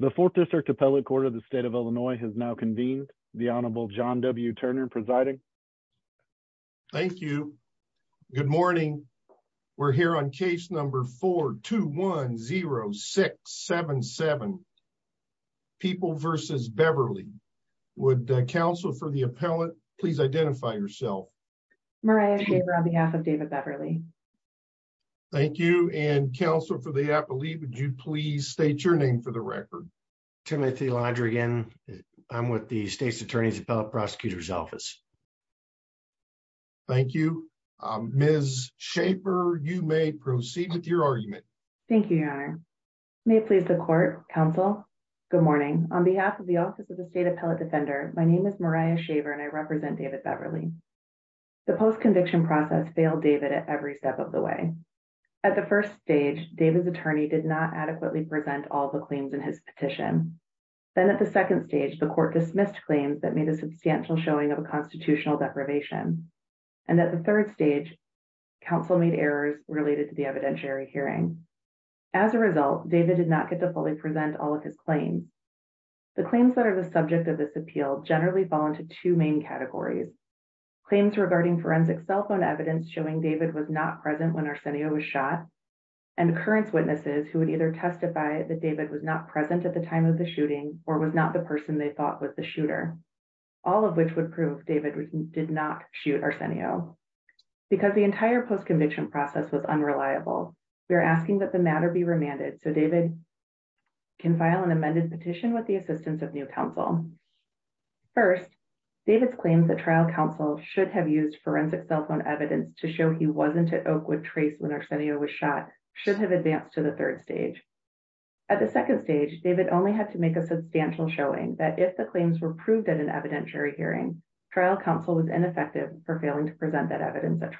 The Fourth District Appellate Court of the State of Illinois has now convened. The Honorable John W. Turner presiding. Thank you. Good morning. We're here on case number 4-2-1-0-6-7-7. People v. Beverly. Would counsel for the appellate please identify yourself. Mariah Shaver on behalf of David Beverly. Thank you. And counsel for the appellate, would you please state your name for the record. Timothy Lodrigan. I'm with the State's Attorney's Appellate Prosecutor's Office. Thank you. Ms. Shaver, you may proceed with your argument. Thank you, Your Honor. May it please the court, counsel. Good morning. On behalf of the Office of the State Appellate Defender, my name is Mariah Shaver and I represent David Beverly. The post-conviction process failed David at every step of the way. At the first stage, David's attorney did not adequately present all the claims in his petition. Then at the second stage, the court dismissed claims that made a substantial showing of a constitutional deprivation. And at the third stage, counsel made errors related to the evidentiary hearing. As a result, David did not get to fully present all of his claims. The claims that are the subject of this appeal generally fall into two main categories. Claims regarding forensic cell phone evidence showing David was not present when Arsenio was shot and occurrence witnesses who would either testify that David was not present at the time of the shooting or was not the person they thought was the shooter. All of which would prove David did not shoot Arsenio. Because the entire post-conviction process was unreliable, we are asking that the matter be remanded so David can file an amended petition with the assistance of new counsel. First, David's claims that trial counsel should have used forensic cell phone evidence to show he wasn't at Oakwood Trace when Arsenio was shot should have advanced to the third stage. At the second stage, David only had to make a substantial showing that if the claims were proved at an evidentiary hearing, trial counsel was ineffective for failing to present evidence from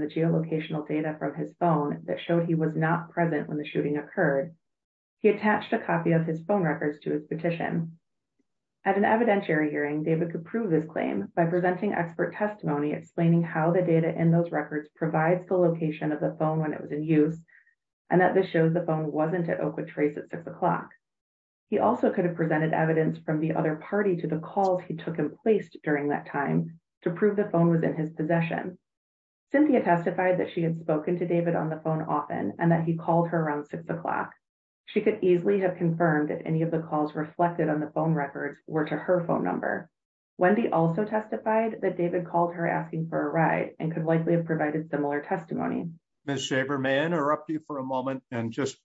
the geolocational data from his phone that showed he was not present when the shooting occurred. He attached a copy of his phone records to his petition. At an evidentiary hearing, David could prove his claim by presenting expert testimony explaining how the data in those records provides the location of the phone when it was in use and that this shows the phone wasn't at Oakwood Trace at 6 o'clock. He also could have presented evidence from the other party to the calls he took and placed during that time to prove the possession. Cynthia testified that she had spoken to David on the phone often and that he called her around 6 o'clock. She could easily have confirmed that any of the calls reflected on the phone records were to her phone number. Wendy also testified that David called her asking for a ride and could likely have provided similar testimony. Ms. Shaver, may I interrupt you for a moment and just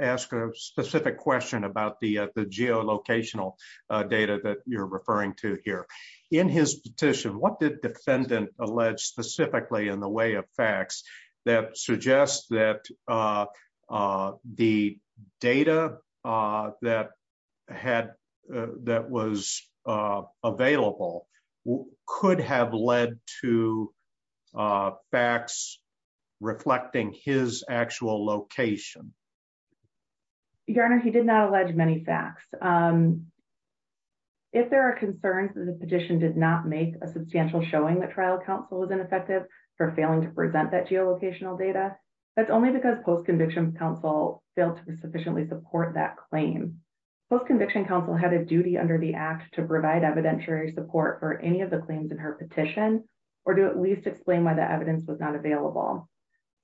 ask a specific question about the geolocational data that you're referring to in his petition. What did the defendant allege specifically in the way of facts that suggest that the data that was available could have led to facts reflecting his actual location? Your Honor, he did not allege many facts. If there are concerns that the petition did not make a substantial showing that trial counsel was ineffective for failing to present that geolocational data, that's only because post-conviction counsel failed to sufficiently support that claim. Post-conviction counsel had a duty under the act to provide evidentiary support for any of the claims in her petition or to at least explain why the evidence was not available.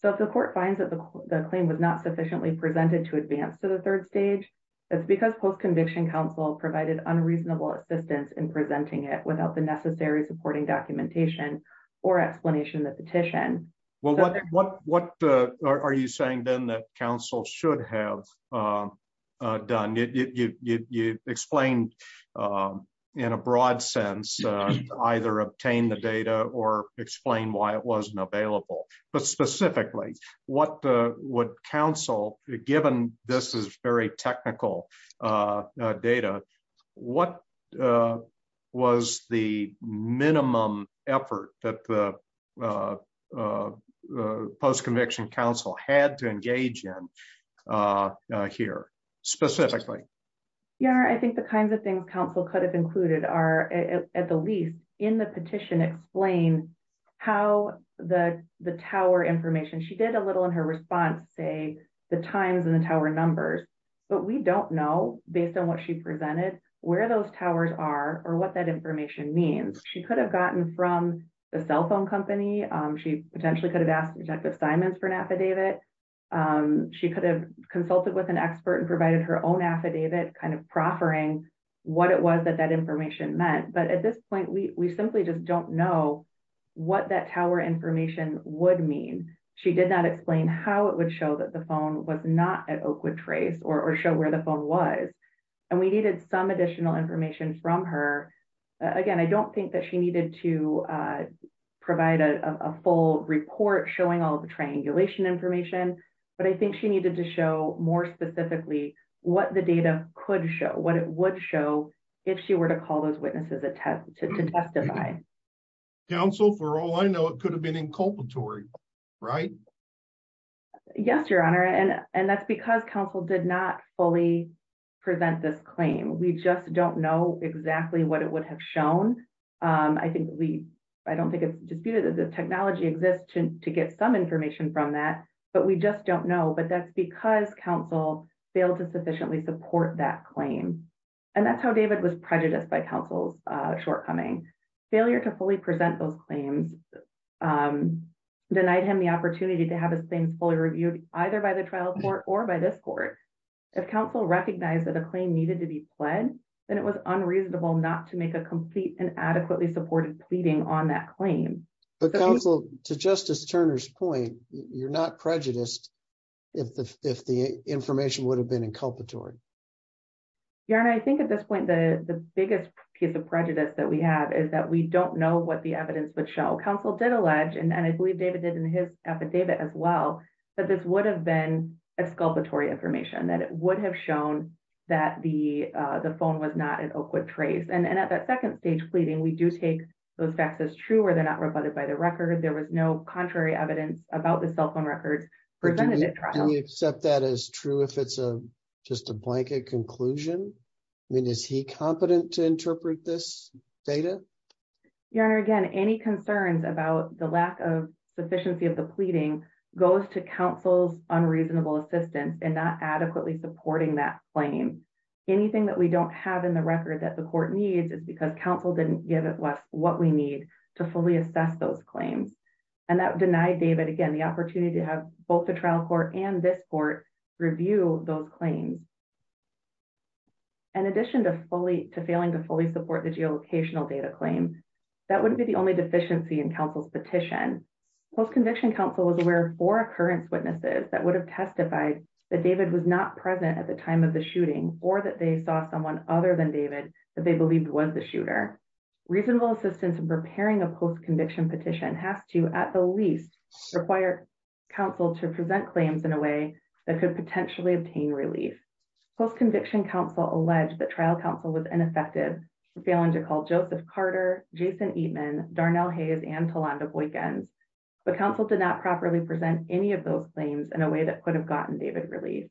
So, if the court finds that the claim was not sufficiently presented to advance to the third stage, that's because post-conviction counsel provided unreasonable assistance in presenting it without the necessary supporting documentation or explanation in the petition. What are you saying then that counsel should have done? You explained in a broad sense to either obtain the what counsel, given this is very technical data, what was the minimum effort that the post-conviction counsel had to engage in here specifically? Your Honor, I think the kinds of things counsel could have included are, at the least, in the petition explain how the tower information, she did a little in her response say the times and the tower numbers, but we don't know, based on what she presented, where those towers are or what that information means. She could have gotten from the cell phone company. She potentially could have asked Detective Simons for an affidavit. She could have consulted with an expert and provided her own affidavit, kind of proffering what it was that that information meant. But at this point, we simply just don't know what that tower information would mean. She did not explain how it would show that the phone was not at Oakwood Trace or show where the phone was. And we needed some additional information from her. Again, I don't think that she needed to provide a full report showing all the triangulation information, but I think she needed to show more specifically what the data could show, what it would show, if she were to call those witnesses to testify. Counsel, for all I know, it could have been inculpatory, right? Yes, Your Honor. And that's because counsel did not fully present this claim. We just don't know exactly what it would have shown. I don't think it's disputed that the technology exists to get some information from that, but we just don't know. But that's because counsel failed to and that's how David was prejudiced by counsel's shortcoming. Failure to fully present those claims denied him the opportunity to have his claims fully reviewed either by the trial court or by this court. If counsel recognized that a claim needed to be pled, then it was unreasonable not to make a complete and adequately supported pleading on that claim. But counsel, to Justice Turner's point, you're not prejudiced if the information would have been inculpatory. Your Honor, I think at this point, the biggest piece of prejudice that we have is that we don't know what the evidence would show. Counsel did allege, and I believe David did in his affidavit as well, that this would have been exculpatory information, that it would have shown that the phone was not an Oakwood trace. And at that second stage pleading, we do take those facts as true or they're not rebutted by the record. There was no contrary evidence about the cell phone records presented at trial. Do we accept that as true if it's just a blanket conclusion? I mean, is he competent to interpret this data? Your Honor, again, any concerns about the lack of sufficiency of the pleading goes to counsel's unreasonable assistance in not adequately supporting that claim. Anything that we don't have in the record that the court needs is because counsel didn't give us what we need to fully assess those claims. And that denied David, again, the opportunity to have both the trial court and this court review those claims. In addition to failing to fully support the geolocational data claim, that wouldn't be the only deficiency in counsel's petition. Post-conviction counsel was aware of four occurrence witnesses that would have testified that David was not present at the time of the shooter. Reasonable assistance in preparing a post-conviction petition has to, at the least, require counsel to present claims in a way that could potentially obtain relief. Post-conviction counsel alleged that trial counsel was ineffective for failing to call Joseph Carter, Jason Eatman, Darnell Hayes, and Talanda Boykins. But counsel did not properly present any of those claims in a way that could have gotten David relief.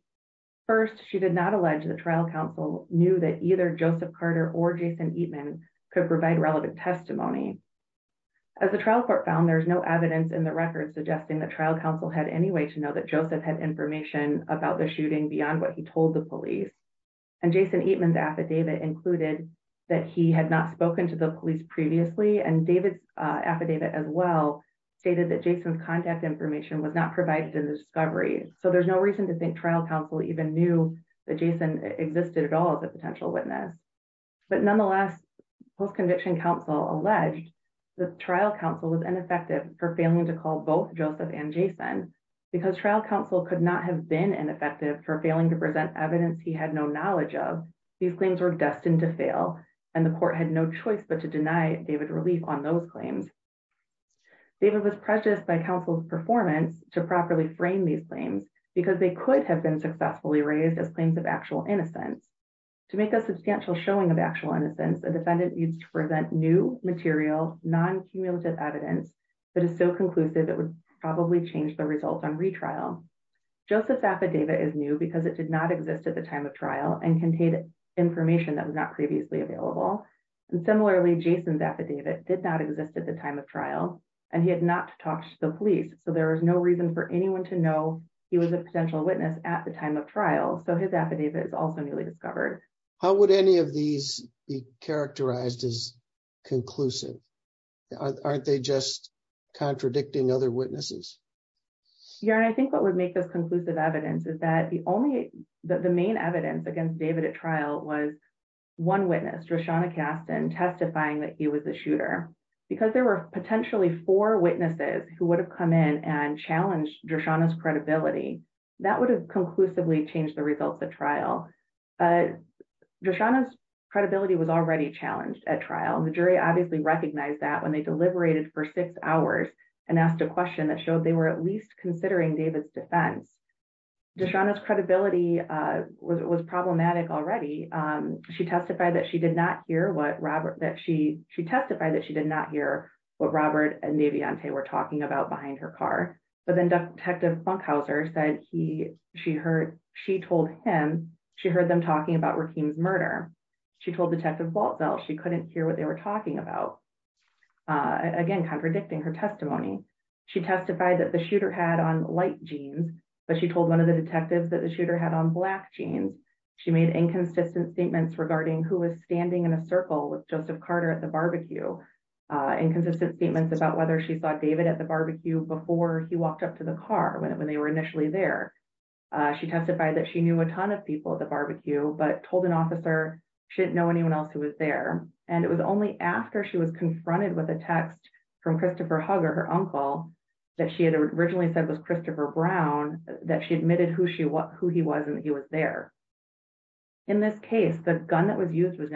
First, she did not allege that trial counsel knew that Joseph Carter or Jason Eatman could provide relevant testimony. As the trial court found, there's no evidence in the record suggesting that trial counsel had any way to know that Joseph had information about the shooting beyond what he told the police. And Jason Eatman's affidavit included that he had not spoken to the police previously. And David's affidavit as well stated that Jason's contact information was not provided in the discovery. So there's no reason to think trial counsel even knew that Jason existed at all as a potential witness. But nonetheless, post-conviction counsel alleged that trial counsel was ineffective for failing to call both Joseph and Jason. Because trial counsel could not have been ineffective for failing to present evidence he had no knowledge of, these claims were destined to fail, and the court had no choice but to deny David relief on those claims. David was prejudiced by counsel's performance to properly frame these raised as claims of actual innocence. To make a substantial showing of actual innocence, a defendant needs to present new material, non-cumulative evidence that is so conclusive it would probably change the results on retrial. Joseph's affidavit is new because it did not exist at the time of trial and contained information that was not previously available. And similarly, Jason's affidavit did not exist at the time of trial and he had not talked to the he was a potential witness at the time of trial. So his affidavit is also newly discovered. How would any of these be characterized as conclusive? Aren't they just contradicting other witnesses? Yeah, and I think what would make this conclusive evidence is that the only that the main evidence against David at trial was one witness, Dreshana Caston, testifying that he was a shooter. Because there were potentially four witnesses who would have come in and challenged Dreshana's credibility. That would have conclusively changed the results of trial. Dreshana's credibility was already challenged at trial and the jury obviously recognized that when they deliberated for six hours and asked a question that showed they were at least considering David's defense. Dreshana's credibility was problematic already. She testified that she did not hear what Robert that she she testified that she did not hear what Robert and but then detective Funkhauser said he she heard she told him she heard them talking about Rakeem's murder. She told detective Waltzell she couldn't hear what they were talking about. Again contradicting her testimony. She testified that the shooter had on light jeans but she told one of the detectives that the shooter had on black jeans. She made inconsistent statements regarding who was standing in a circle with Joseph Carter at the barbecue. Inconsistent statements about whether she saw David at the barbecue before he walked up to the car when they were initially there. She testified that she knew a ton of people at the barbecue but told an officer she didn't know anyone else who was there. And it was only after she was confronted with a text from Christopher Hugger, her uncle, that she had originally said was Christopher Brown that she admitted who he was and that he was there. In this case the gun that was used was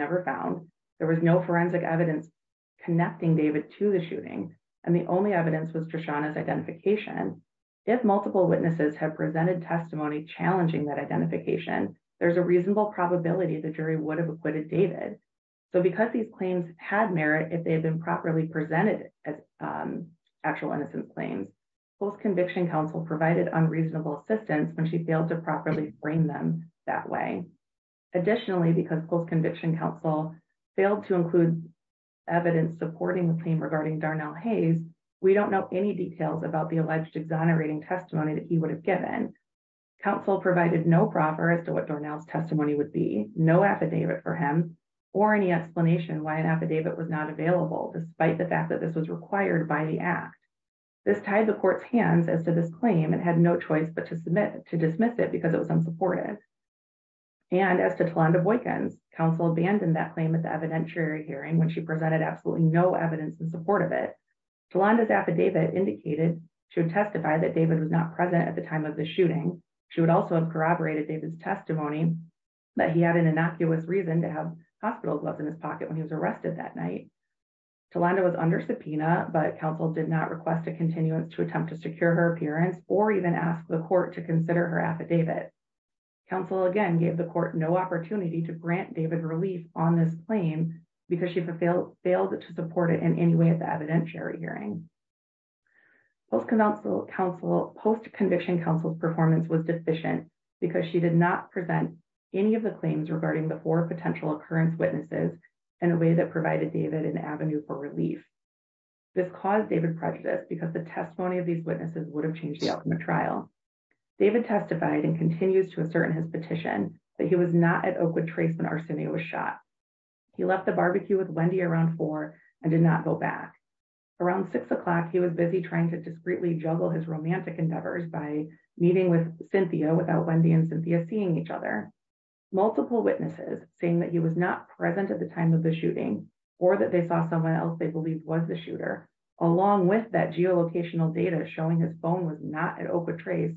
and the only evidence was Trishana's identification. If multiple witnesses have presented testimony challenging that identification there's a reasonable probability the jury would have acquitted David. So because these claims had merit if they had been properly presented as actual innocent claims, post-conviction counsel provided unreasonable assistance when she failed to properly frame them that way. Additionally because post-conviction counsel failed to include evidence supporting the claim regarding Darnell Hayes, we don't know any details about the alleged exonerating testimony that he would have given. Counsel provided no proffer as to what Darnell's testimony would be. No affidavit for him or any explanation why an affidavit was not available despite the fact that this was required by the act. This tied the court's hands as to this claim and had no choice but to submit to dismiss it it was unsupported. And as to Talanda Boykins, counsel abandoned that claim at the evidentiary hearing when she presented absolutely no evidence in support of it. Talanda's affidavit indicated she would testify that David was not present at the time of the shooting. She would also have corroborated David's testimony that he had an innocuous reason to have hospital gloves in his pocket when he was arrested that night. Talanda was under subpoena but counsel did not request a affidavit. Counsel again gave the court no opportunity to grant David relief on this claim because she failed to support it in any way at the evidentiary hearing. Post-conviction counsel's performance was deficient because she did not present any of the claims regarding the four potential occurrence witnesses in a way that provided David an avenue for relief. This caused David prejudice because the testimony of these witnesses would have changed the outcome of trial. David testified and continues to assert in his petition that he was not at Oakwood Trace when Arsenio was shot. He left the barbecue with Wendy around four and did not go back. Around six o'clock he was busy trying to discreetly juggle his romantic endeavors by meeting with Cynthia without Wendy and Cynthia seeing each other. Multiple witnesses saying that he was not present at the time of the shooting or that they saw someone else they believed was the shooter along with that geolocational data showing his phone was not at Oakwood Trace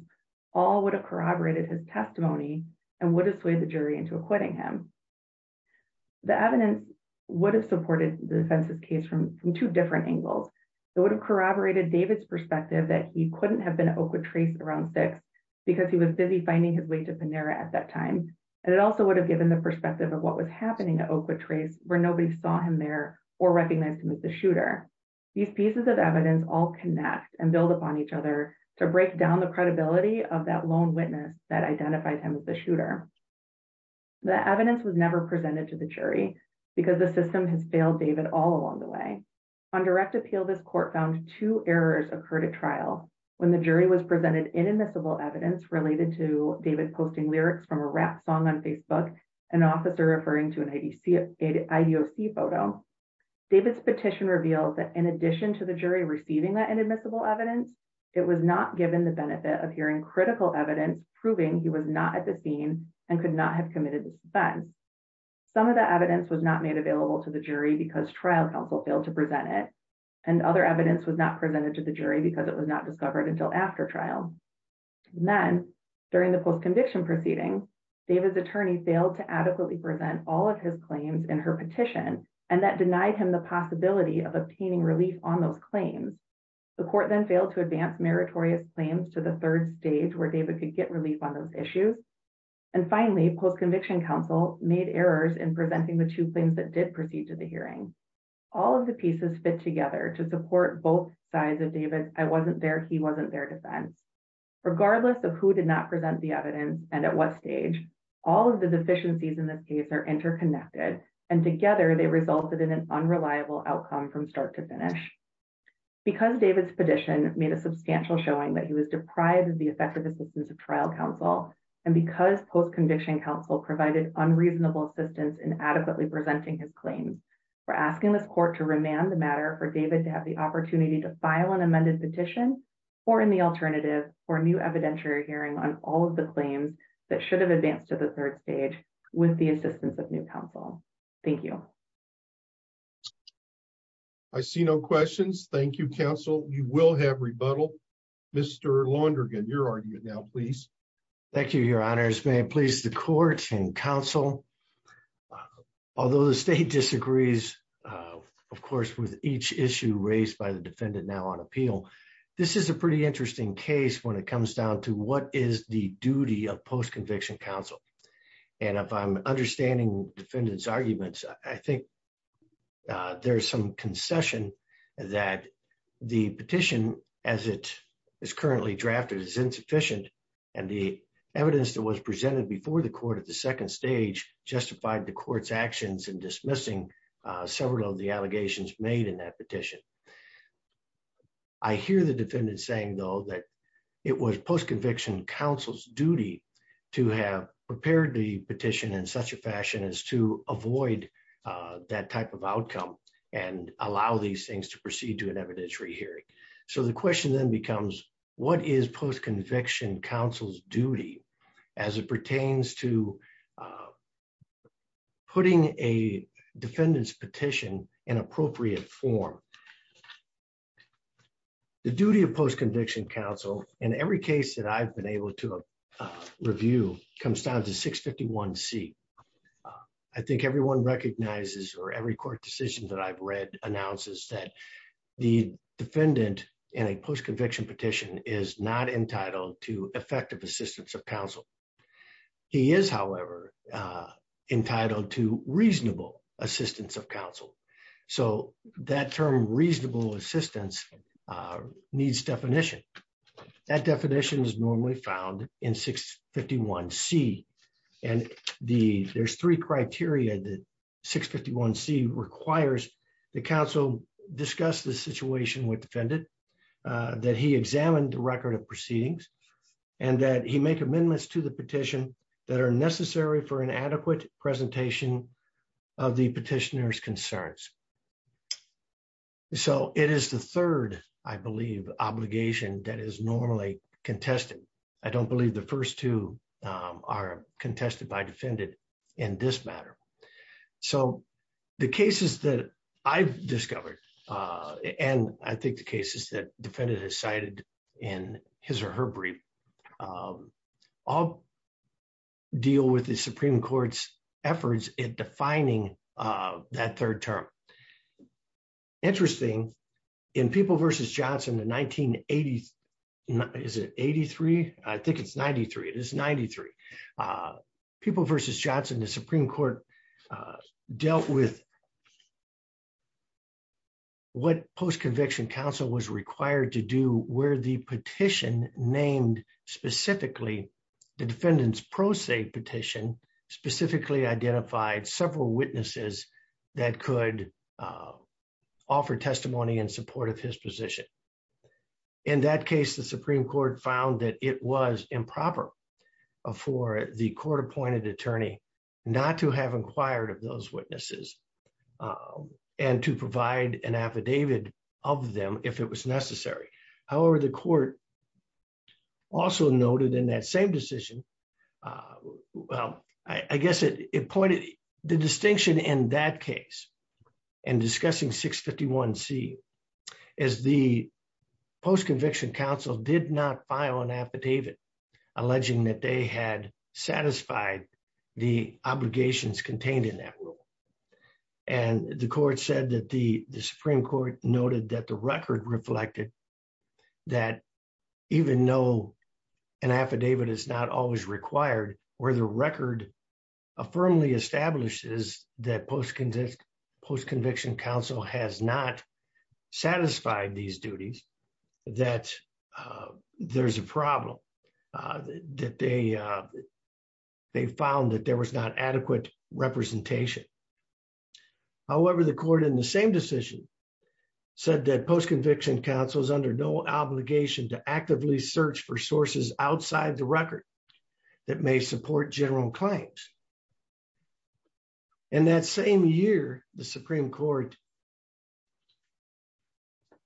all would have corroborated his testimony and would have swayed the jury into acquitting him. The evidence would have supported the defense's case from from two different angles. It would have corroborated David's perspective that he couldn't have been at Oakwood Trace around six because he was busy finding his way to Panera at that time and it also would have given the perspective of what was happening at Oakwood Trace where nobody saw him there or recognized him as the shooter. These pieces of evidence all connect and build upon each other to break down the credibility of that lone witness that identified him as the shooter. The evidence was never presented to the jury because the system has failed David all along the way. On direct appeal this court found two errors occurred at trial when the jury was presented inadmissible evidence related to David posting lyrics from a rap song on Facebook, an officer referring to an IDOC photo. David's petition revealed that in addition to the jury receiving that inadmissible evidence it was not given the benefit of hearing critical evidence proving he was not at the scene and could not have committed this offense. Some of the evidence was not made available to the jury because trial counsel failed to present it and other evidence was not presented to the jury because it was not discovered until after trial. Then during the post-conviction proceeding David's attorney failed to adequately present all of his claims in her petition and that denied him the possibility of obtaining relief on those claims. The court then failed to advance meritorious claims to the third stage where David could get relief on those issues and finally post-conviction counsel made errors in presenting the two claims that did proceed to the hearing. All of the pieces fit together to support both sides of David's I wasn't there he at what stage all of the deficiencies in this case are interconnected and together they resulted in an unreliable outcome from start to finish. Because David's petition made a substantial showing that he was deprived of the effective assistance of trial counsel and because post-conviction counsel provided unreasonable assistance in adequately presenting his claims we're asking this court to remand the matter for David to have the opportunity to file an amended petition or in the alternative for a new evidentiary hearing on all of the claims that should have advanced to the third stage with the assistance of new counsel. Thank you. I see no questions. Thank you counsel. You will have rebuttal. Mr. Laundergan your argument now please. Thank you your honors. May it please the court and counsel although the state disagrees of course with each issue raised by the defendant now on appeal this is a pretty interesting case when it comes down to what is the duty of post-conviction counsel and if I'm understanding defendant's arguments I think there's some concession that the petition as it is currently drafted is insufficient and the evidence that was presented before the court at the second stage justified the court's actions in dismissing several of the allegations made in that petition. I hear the defendant saying though that it was post-conviction counsel's duty to have prepared the petition in such a fashion as to avoid that type of outcome and allow these things to proceed to an evidentiary hearing. So the question then becomes what is post-conviction counsel's duty as it pertains to putting a defendant's petition in appropriate form. The duty of post-conviction counsel in every case that I've been able to review comes down to 651 c. I think everyone recognizes or every court decision that I've read announces that the defendant in a post-conviction petition is not entitled to effective assistance of counsel. He is however entitled to reasonable assistance of counsel. So that term reasonable assistance needs definition. That definition is normally found in 651 c and there's three criteria that 651 c requires the counsel discuss the situation with defendant that he examined the record of proceedings and that he make amendments to the petition that are necessary for an adequate presentation of the petitioner's concerns. So it is the third I believe obligation that is normally contested. I don't believe the first two are contested by defendant in this matter. So the cases that I've discovered and I think the cases that defendant has cited in his or her brief all deal with the Supreme Court's efforts in defining that third term. Interesting in People v. Johnson the 1980s is it 83? I think it's 93. It is 93. People v. Johnson the Supreme Court dealt with what post-conviction counsel was required to do where the petition named specifically the defendant's pro se petition specifically identified several witnesses that could offer testimony in support of his position. In that case the Supreme Court found that it was improper for the court appointed attorney not to have inquired of those witnesses and to provide an affidavit of them if it was necessary. However, the court also noted in that same decision well I guess it pointed the distinction in that case and discussing 651c as the post-conviction counsel did not file an affidavit alleging that they had satisfied the obligations contained in that rule. And the court said that the Supreme Court noted that the record reflected that even though an affidavit is not always required where the record firmly establishes that post-conviction counsel has not satisfied these duties that there's a problem. That they found that there was not adequate representation. However, the court in the same decision said that post-conviction counsel is under no obligation to actively search for sources outside the record that may support general claims. In that same year the Supreme Court did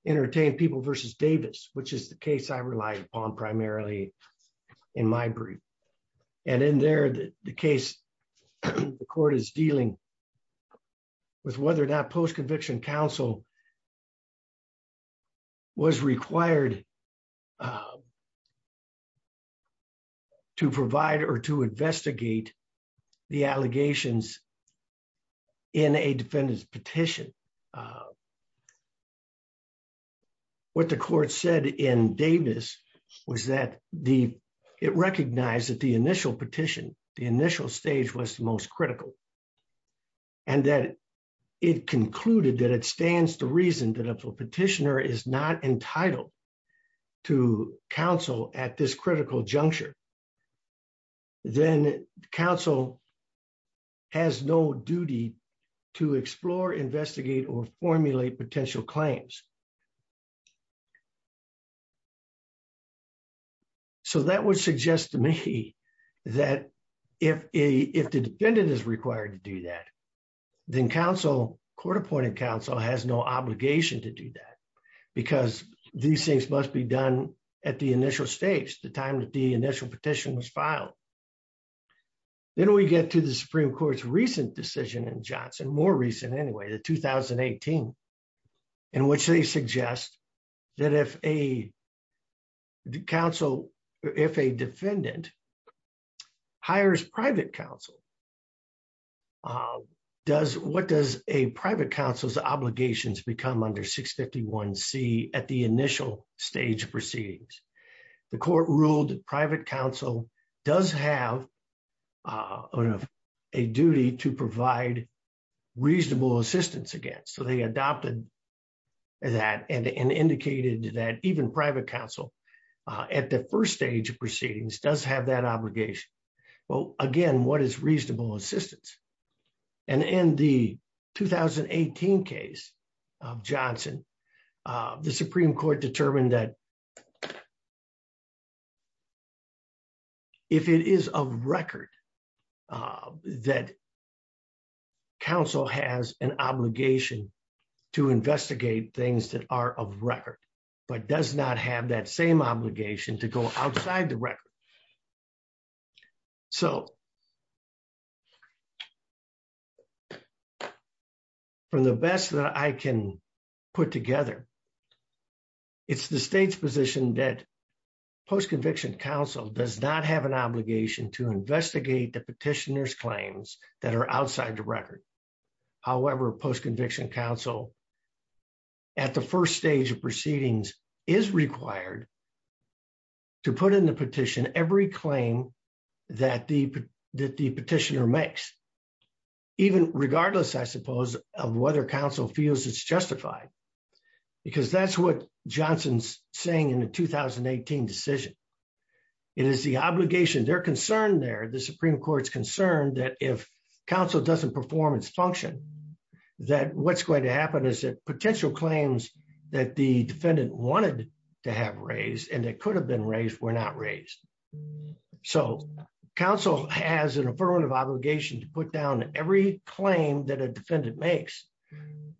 not entertain people versus Davis which is the case I relied upon primarily in my brief. And in there the case the court is dealing with whether that post-conviction counsel was required to provide or to investigate the allegations in a defendant's petition. What the court said in Davis was that the it recognized that the initial petition the initial stage was the most critical. And that it concluded that it stands to reason petitioner is not entitled to counsel at this critical juncture. Then counsel has no duty to explore investigate or formulate potential claims. So that would suggest to me that if a if the defendant is required to do that then counsel court appointed counsel has no obligation to do that. Because these things must be done at the initial stage the time that the initial petition was filed. Then we get to the Supreme Court's recent decision in Johnson more recent anyway the 2018 in which they suggest that if a counsel if a defendant hires private counsel uh does what does a private counsel's obligations become under 651c at the initial stage proceedings. The court ruled private counsel does have a duty to provide reasonable assistance against. So they adopted that and indicated that even private counsel at the first stage of proceedings does have that obligation. Well again what is reasonable assistance? And in the 2018 case of Johnson the Supreme Court determined that if it is of record that counsel has an obligation to investigate things that are of record but does not have that same obligation to go outside the record. So from the best that I can put together it's the state's position that post-conviction counsel does not have an obligation to investigate the petitioner's claims that are outside the record. However post-conviction counsel at the first stage of proceedings is required to put in the petition every claim that the that the petitioner makes even regardless I suppose of whether counsel feels it's justified. Because that's what Johnson's saying in the 2018 decision it is the obligation they're concerned there the Supreme Court's concerned that if counsel doesn't perform its function that what's going to happen is that potential claims that the defendant wanted to have raised and that could have been raised were not raised. So counsel has an affirmative obligation to put down every claim that a defendant makes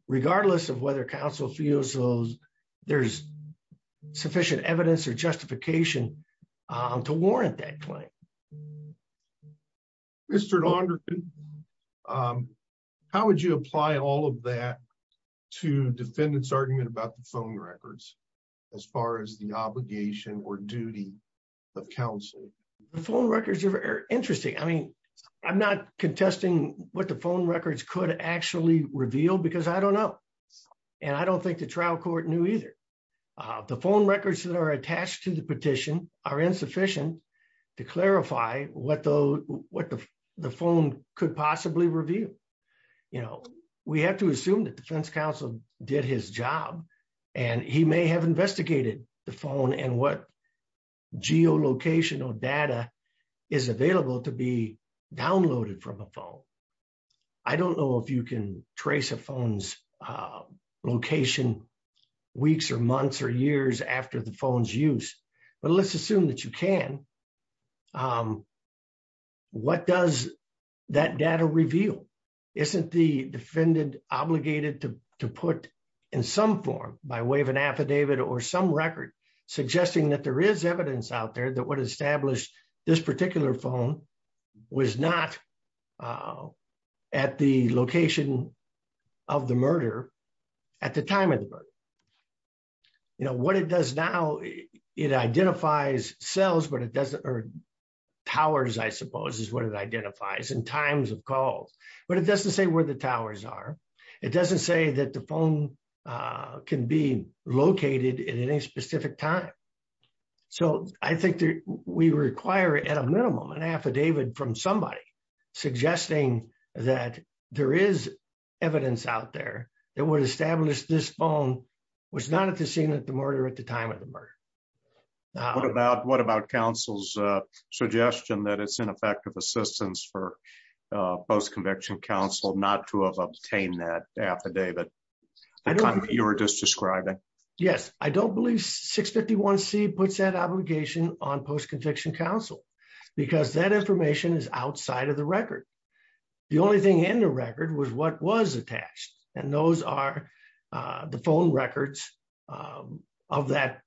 regardless of whether counsel feels there's sufficient evidence or justification to warrant that claim. Mr. Laundry how would you apply all of that to defendant's argument about the phone records as far as the obligation or duty of counsel? The phone records are interesting I mean I'm not contesting what the phone records could actually reveal because I don't know and I don't think the trial court knew either. The phone records that are attached to the petition are insufficient to clarify what the phone could possibly reveal. You know we have to assume that defense counsel did his job and he may have investigated the phone and what geolocation or data is available to be downloaded from a phone. I don't know if you can trace a phone's location weeks or months or years after the phone's use but let's assume that you can. What does that data reveal? Isn't the defendant obligated to put in some form by way of an affidavit or some record suggesting that there is evidence out there that what established this particular phone was not at the location of the murder at the time of the murder. You know what it does now it identifies cells but it doesn't or towers I suppose is what it identifies and times of calls but it doesn't say where the towers are. It doesn't say that the phone can be located at any specific time. So I think that we require at a minimum an affidavit from somebody suggesting that there is evidence out there that would establish this phone was not at the scene at the murder at the time of the murder. What about counsel's suggestion that it's ineffective assistance for post-conviction counsel not to have obtained that you're just describing? Yes I don't believe 651c puts that obligation on post-conviction counsel because that information is outside of the record. The only thing in the record was what was attached and those are the phone records of that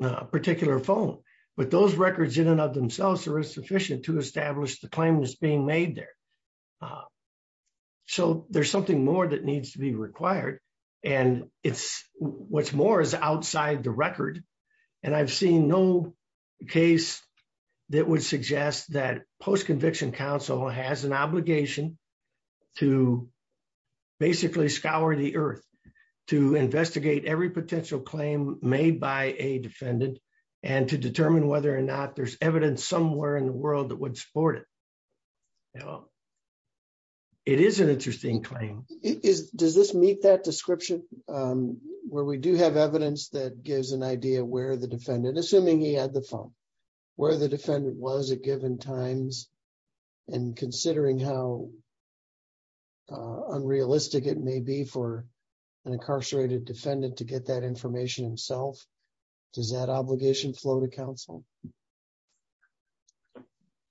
particular phone but those records in and of themselves are insufficient to establish the claim that's being made there. So there's something more that needs to be required and it's what's more is outside the record and I've seen no case that would suggest that post-conviction counsel has an obligation to basically scour the earth to investigate every potential claim made by a defendant and to determine whether or not there's evidence somewhere in the world that would support it. It is an interesting claim. Does this meet that description where we do have evidence that gives an idea where the defendant assuming he had the phone where the defendant was at given times and considering how unrealistic it may be for an incarcerated defendant to get that information himself does that obligation flow to counsel?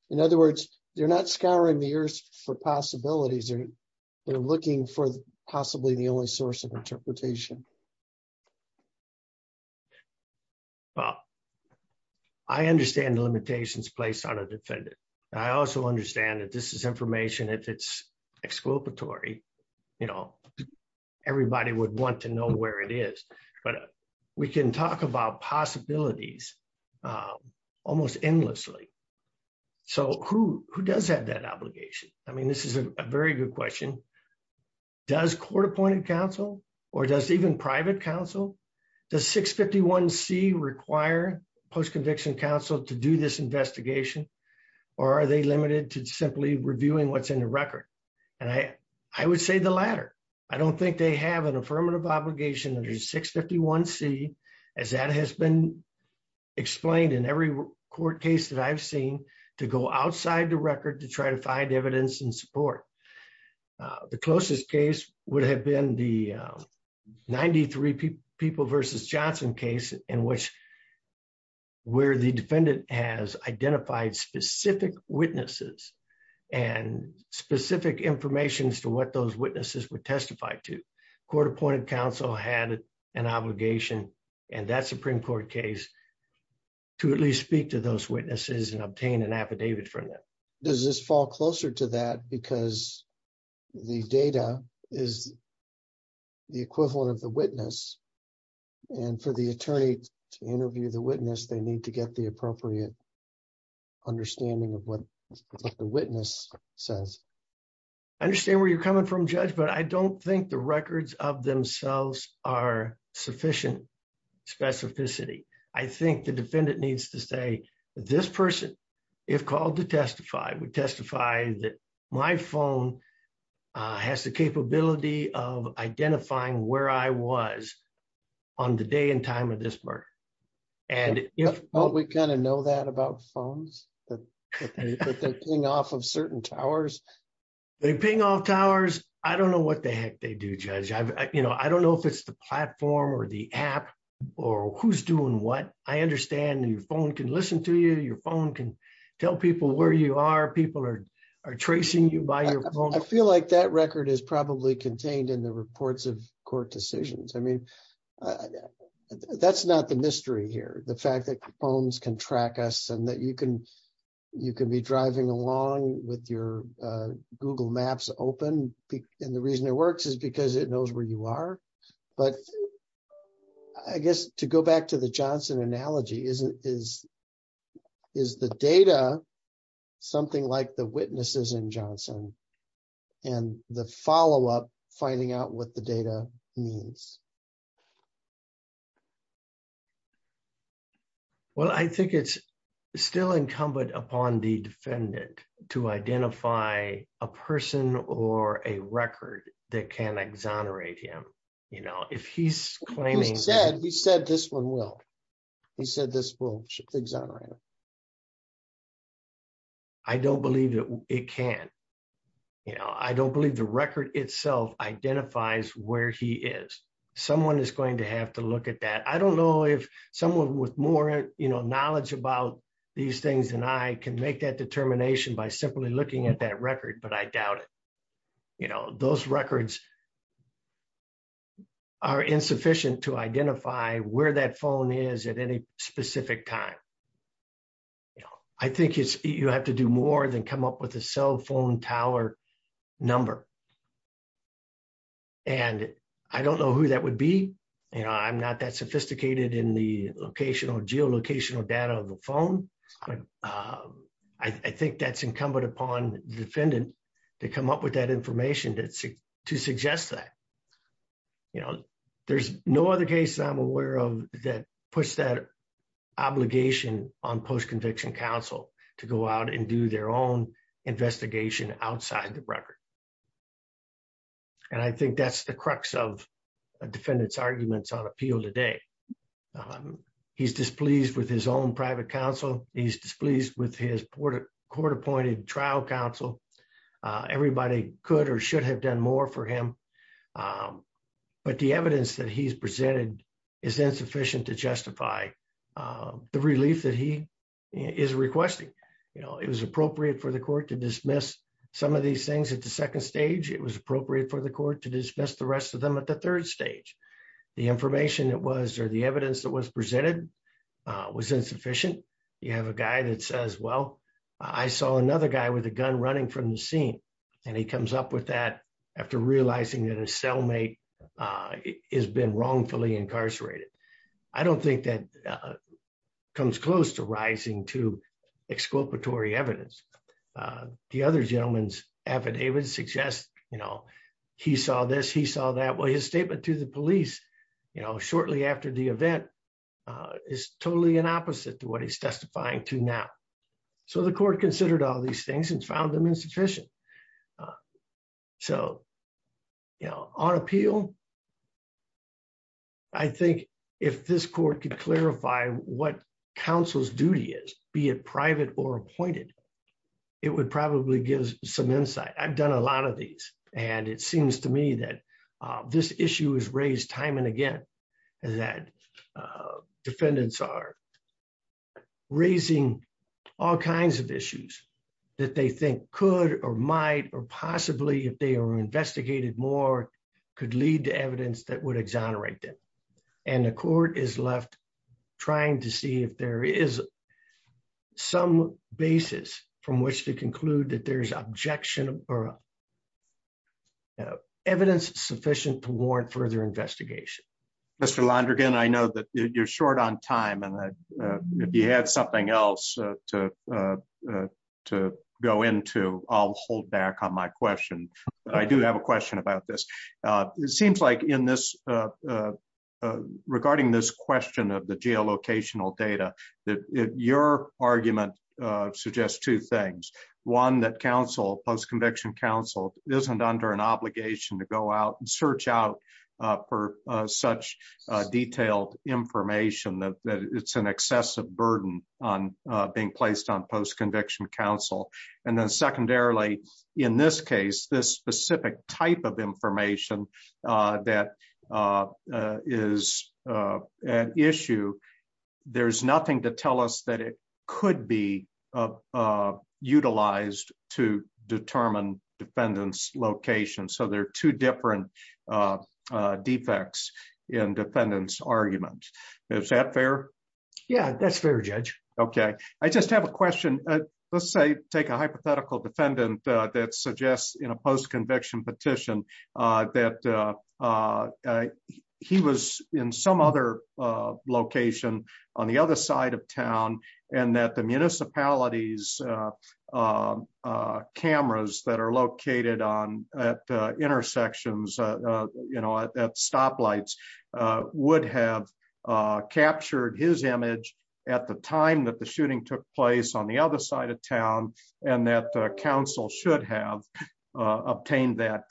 In other words they're not scouring the earth for possibilities they're looking for possibly the only source of interpretation. Well I understand the limitations placed on a defendant I also understand that this is information if it's exculpatory you know everybody would want to know where it is but we can talk about possibilities almost endlessly. So who does have that obligation? I mean this is a very good question. Does court-appointed counsel or does even private counsel does 651c require post-conviction counsel to do this investigation or are they limited to simply reviewing what's in the record? And I would say the latter. I don't think they have affirmative obligation under 651c as that has been explained in every court case that I've seen to go outside the record to try to find evidence and support. The closest case would have been the 93 people versus Johnson case in which where the defendant has identified specific witnesses and specific information as to what those witnesses would testify to. Court-appointed counsel had an obligation and that supreme court case to at least speak to those witnesses and obtain an affidavit from them. Does this fall closer to that because the data is the equivalent of the witness and for the attorney to interview the witness they need to get the appropriate understanding of what the witness says. I understand where you're coming from judge but I don't think the records of themselves are sufficient specificity. I think the defendant needs to say this person if called to testify would testify that my phone has the capability of identifying where I was on the day and time of this murder. We kind of know that about phones that they ping off of certain towers. They ping off towers? I don't know what the heck they do judge. I don't know if it's the platform or the app or who's doing what. I understand your phone can listen to you. Your phone can tell people where you are. People are tracing you by your I feel like that record is probably contained in the reports of court decisions. I mean that's not the mystery here. The fact that phones can track us and that you can be driving along with your google maps open and the reason it works is because it knows where you are. But I guess to go back to the Johnson analogy is the data something like the witnesses in Johnson and the follow-up finding out what the data means. Well I think it's still incumbent upon the defendant to identify a person or a record that can exonerate him. You know if he's claiming he said this one will he said this will exonerate him? I don't believe that it can. You know I don't believe the record itself identifies where he is. Someone is going to have to look at that. I don't know if someone with more you know knowledge about these things than I can make that determination by simply looking at that record but I doubt it. You know those records are insufficient to identify where that phone is at any specific time. I think it's you have to do more than come up with a cell phone tower number and I don't know who that would be. You know I'm not that sophisticated in the locational geolocational data of the phone. I think that's incumbent upon the defendant to come up with that information to suggest that. You know there's no other case I'm aware of that puts that obligation on post-conviction counsel to go out and do their own investigation outside the record and I think that's the crux of a defendant's arguments on appeal today. He's displeased with his own private counsel. He's displeased with his court-appointed trial counsel. Everybody could or should have done more for him but the evidence that he's presented is insufficient to justify the relief that he is requesting. You know it was appropriate for the court to dismiss some of these things at the second stage. It was appropriate for the court to dismiss the rest of them at the third stage. The information that was or the evidence that was presented was insufficient. You have a guy that says well I saw another guy with a gun running from the scene and he comes up with that after realizing that his cellmate has been wrongfully incarcerated. I don't think that comes close to rising to exculpatory evidence. The other gentleman's affidavit suggests you know he saw this, he saw that. Well his statement to the police you know shortly after the event is totally an opposite to what he's testifying to now. So the court considered all these things and found them insufficient. So you know on appeal I think if this court could clarify what counsel's duty is, be it private or appointed, it would probably give some insight. I've done a lot of these and it seems to me that this issue is raised time and again and that defendants are raising all kinds of issues that they think could or might or possibly if they were investigated more could lead to evidence that would exonerate them. And the court is left trying to see if there is some basis from which to conclude that there's objection or evidence sufficient to warrant further investigation. Mr. Londrigan, I know that you're short on time and that if you had something else to go into, I'll hold back on my question. I do have a question about this. It seems like in this regarding this question of the geolocational data that your argument suggests two things. One, that counsel post-conviction counsel isn't under an obligation to go out and search out such detailed information that it's an excessive burden on being placed on post-conviction counsel. And then secondarily, in this case, this specific type of information that is an issue, there's nothing to tell us that it could be utilized to determine defendant's location. So they're two different defects in defendant's argument. Is that fair? Yeah, that's fair, Judge. Okay. I just have a question. Let's say take a hypothetical defendant that suggests in a post-conviction petition that he was in some other location on the other side of town and that municipality's cameras that are located at stoplights would have captured his image at the time that the shooting took place on the other side of town and that counsel should have obtained that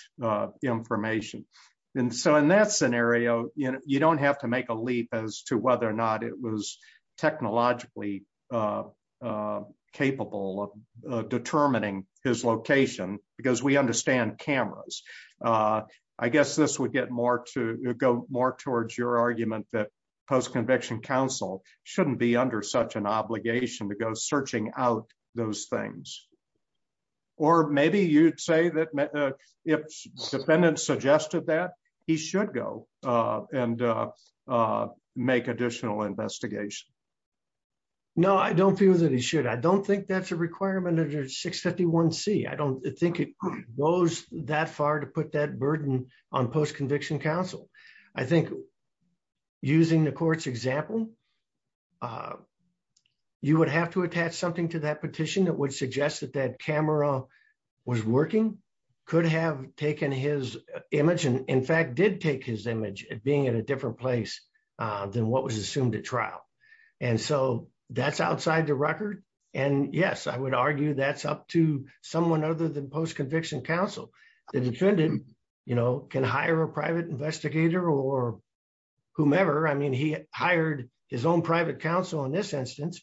information. And so in that scenario, you don't have to make a leap as to whether or not it was technologically capable of determining his location because we understand cameras. I guess this would go more towards your argument that post-conviction counsel shouldn't be under such an obligation to go searching out those things. Or maybe you'd say that if defendant suggested that, he should go and make additional investigation. No, I don't feel that he should. I don't think that's a requirement under 651C. I don't think it goes that far to put that burden on post-conviction counsel. I think using the court's example, you would have to attach something to that petition that would suggest that that camera was working, could have taken his image, and in fact, did take his image at being at a different place than what was assumed at trial. And so that's outside the record. And yes, I would argue that's up to someone other than post-conviction counsel. The defendant, you know, can hire a private investigator or whomever. I mean, he hired his own private counsel in this instance.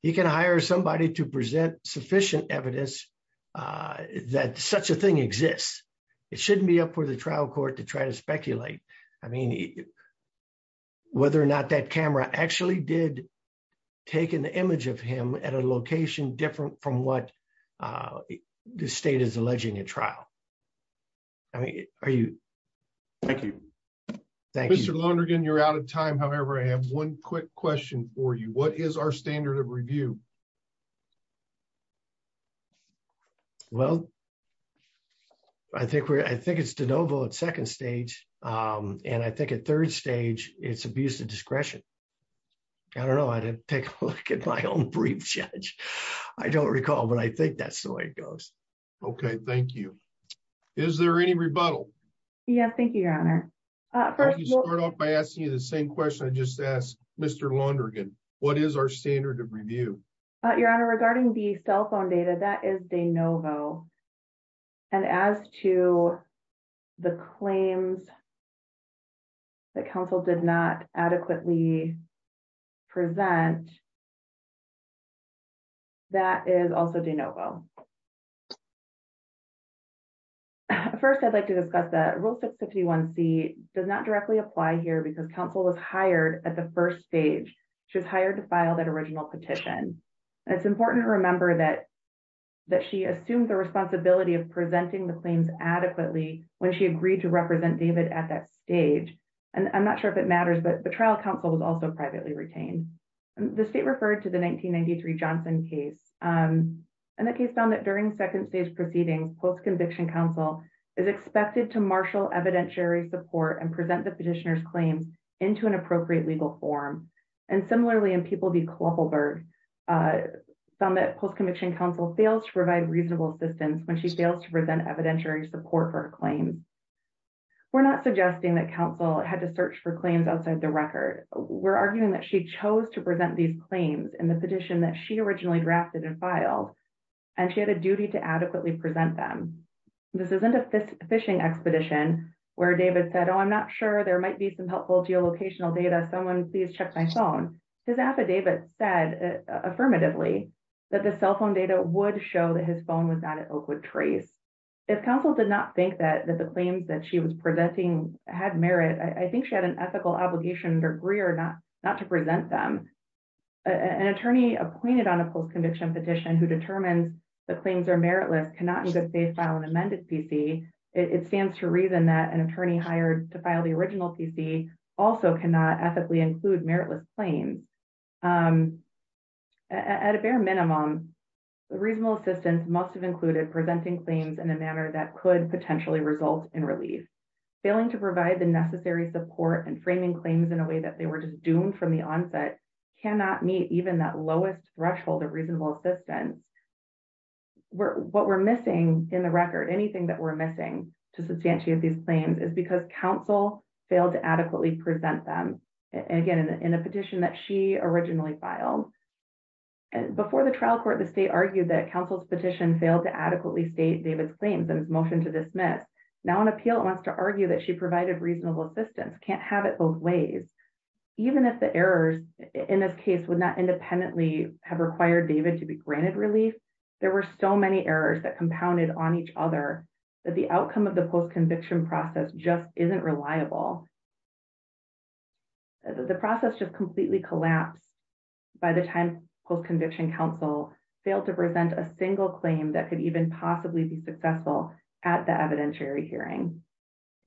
He can hire somebody to present sufficient evidence that such a thing exists. It shouldn't be up for the trial court to try to speculate. I mean, whether or not that camera actually did take an image of him at a location different from what the state is alleging at trial. I mean, are you? Thank you. Thank you. Mr. Lonergan, you're out of time. However, I have one quick question for you. What is our standard of review? Well, I think it's de novo at second stage. And I think at third stage, it's abuse of discretion. I don't know. I didn't take a look at my own brief, Judge. I don't recall, but I think that's the way it goes. Okay, thank you. Is there any rebuttal? Yeah, thank you, Your Honor. I'll start off by asking you the same question I just asked Mr. Lonergan. What is our standard of review? Your Honor, regarding the cell phone data, that is de novo. And as to the claims that counsel did not adequately present, that is also de novo. First, I'd like to discuss that Rule 651C does not directly apply here because counsel was hired at the first stage. She was hired to file that original petition. It's important to remember that she assumed the responsibility of presenting the claims adequately when she agreed to represent David at that stage. And I'm not sure if it matters, but the trial counsel was also privately retained. The state referred to the 1993 Johnson case. And the case found that during second stage proceedings, post-conviction counsel is expected to marshal evidentiary support and present the petitioner's claims into an appropriate legal form. And similarly, in People v. Kloppelberg, found that post-conviction counsel fails to provide reasonable assistance when she fails to present evidentiary support for a claim. We're not suggesting that counsel had to search for claims outside the record. We're arguing that she chose to present these claims in the petition that she originally drafted and filed, and she had a duty to adequately present them. This isn't a phishing expedition where David said, oh, I'm not sure there might be some helpful geolocational data. Someone please check my phone. His affidavit said affirmatively that the cell phone data would show that his phone was not at Oakwood Trace. If counsel did not think that the had merit, I think she had an ethical obligation to agree or not to present them. An attorney appointed on a post-conviction petition who determines the claims are meritless cannot in good faith file an amended PC. It stands to reason that an attorney hired to file the original PC also cannot ethically include meritless claims. At a bare minimum, reasonable assistance must have failing to provide the necessary support and framing claims in a way that they were just doomed from the onset cannot meet even that lowest threshold of reasonable assistance. What we're missing in the record, anything that we're missing to substantiate these claims is because counsel failed to adequately present them. Again, in a petition that she originally filed. Before the trial court, the state argued that counsel's petition failed to adequately state David's claims and his motion to dismiss. Now an appeal wants to argue that she provided reasonable assistance, can't have it both ways. Even if the errors in this case would not independently have required David to be granted relief, there were so many errors that compounded on each other that the outcome of the post-conviction process just isn't reliable. The process just completely collapsed by the time post-conviction counsel failed to present a single claim that could even possibly be successful at the evidentiary hearing.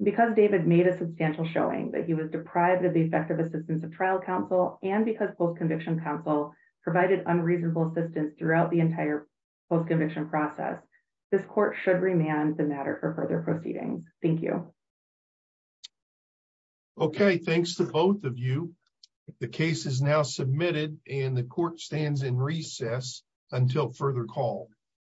Because David made a substantial showing that he was deprived of the effective assistance of trial counsel, and because post-conviction counsel provided unreasonable assistance throughout the entire post-conviction process, this court should remand the matter for further proceedings. Thank you. Okay, thanks to both of you. The case is now submitted and the court stands in recess until further call.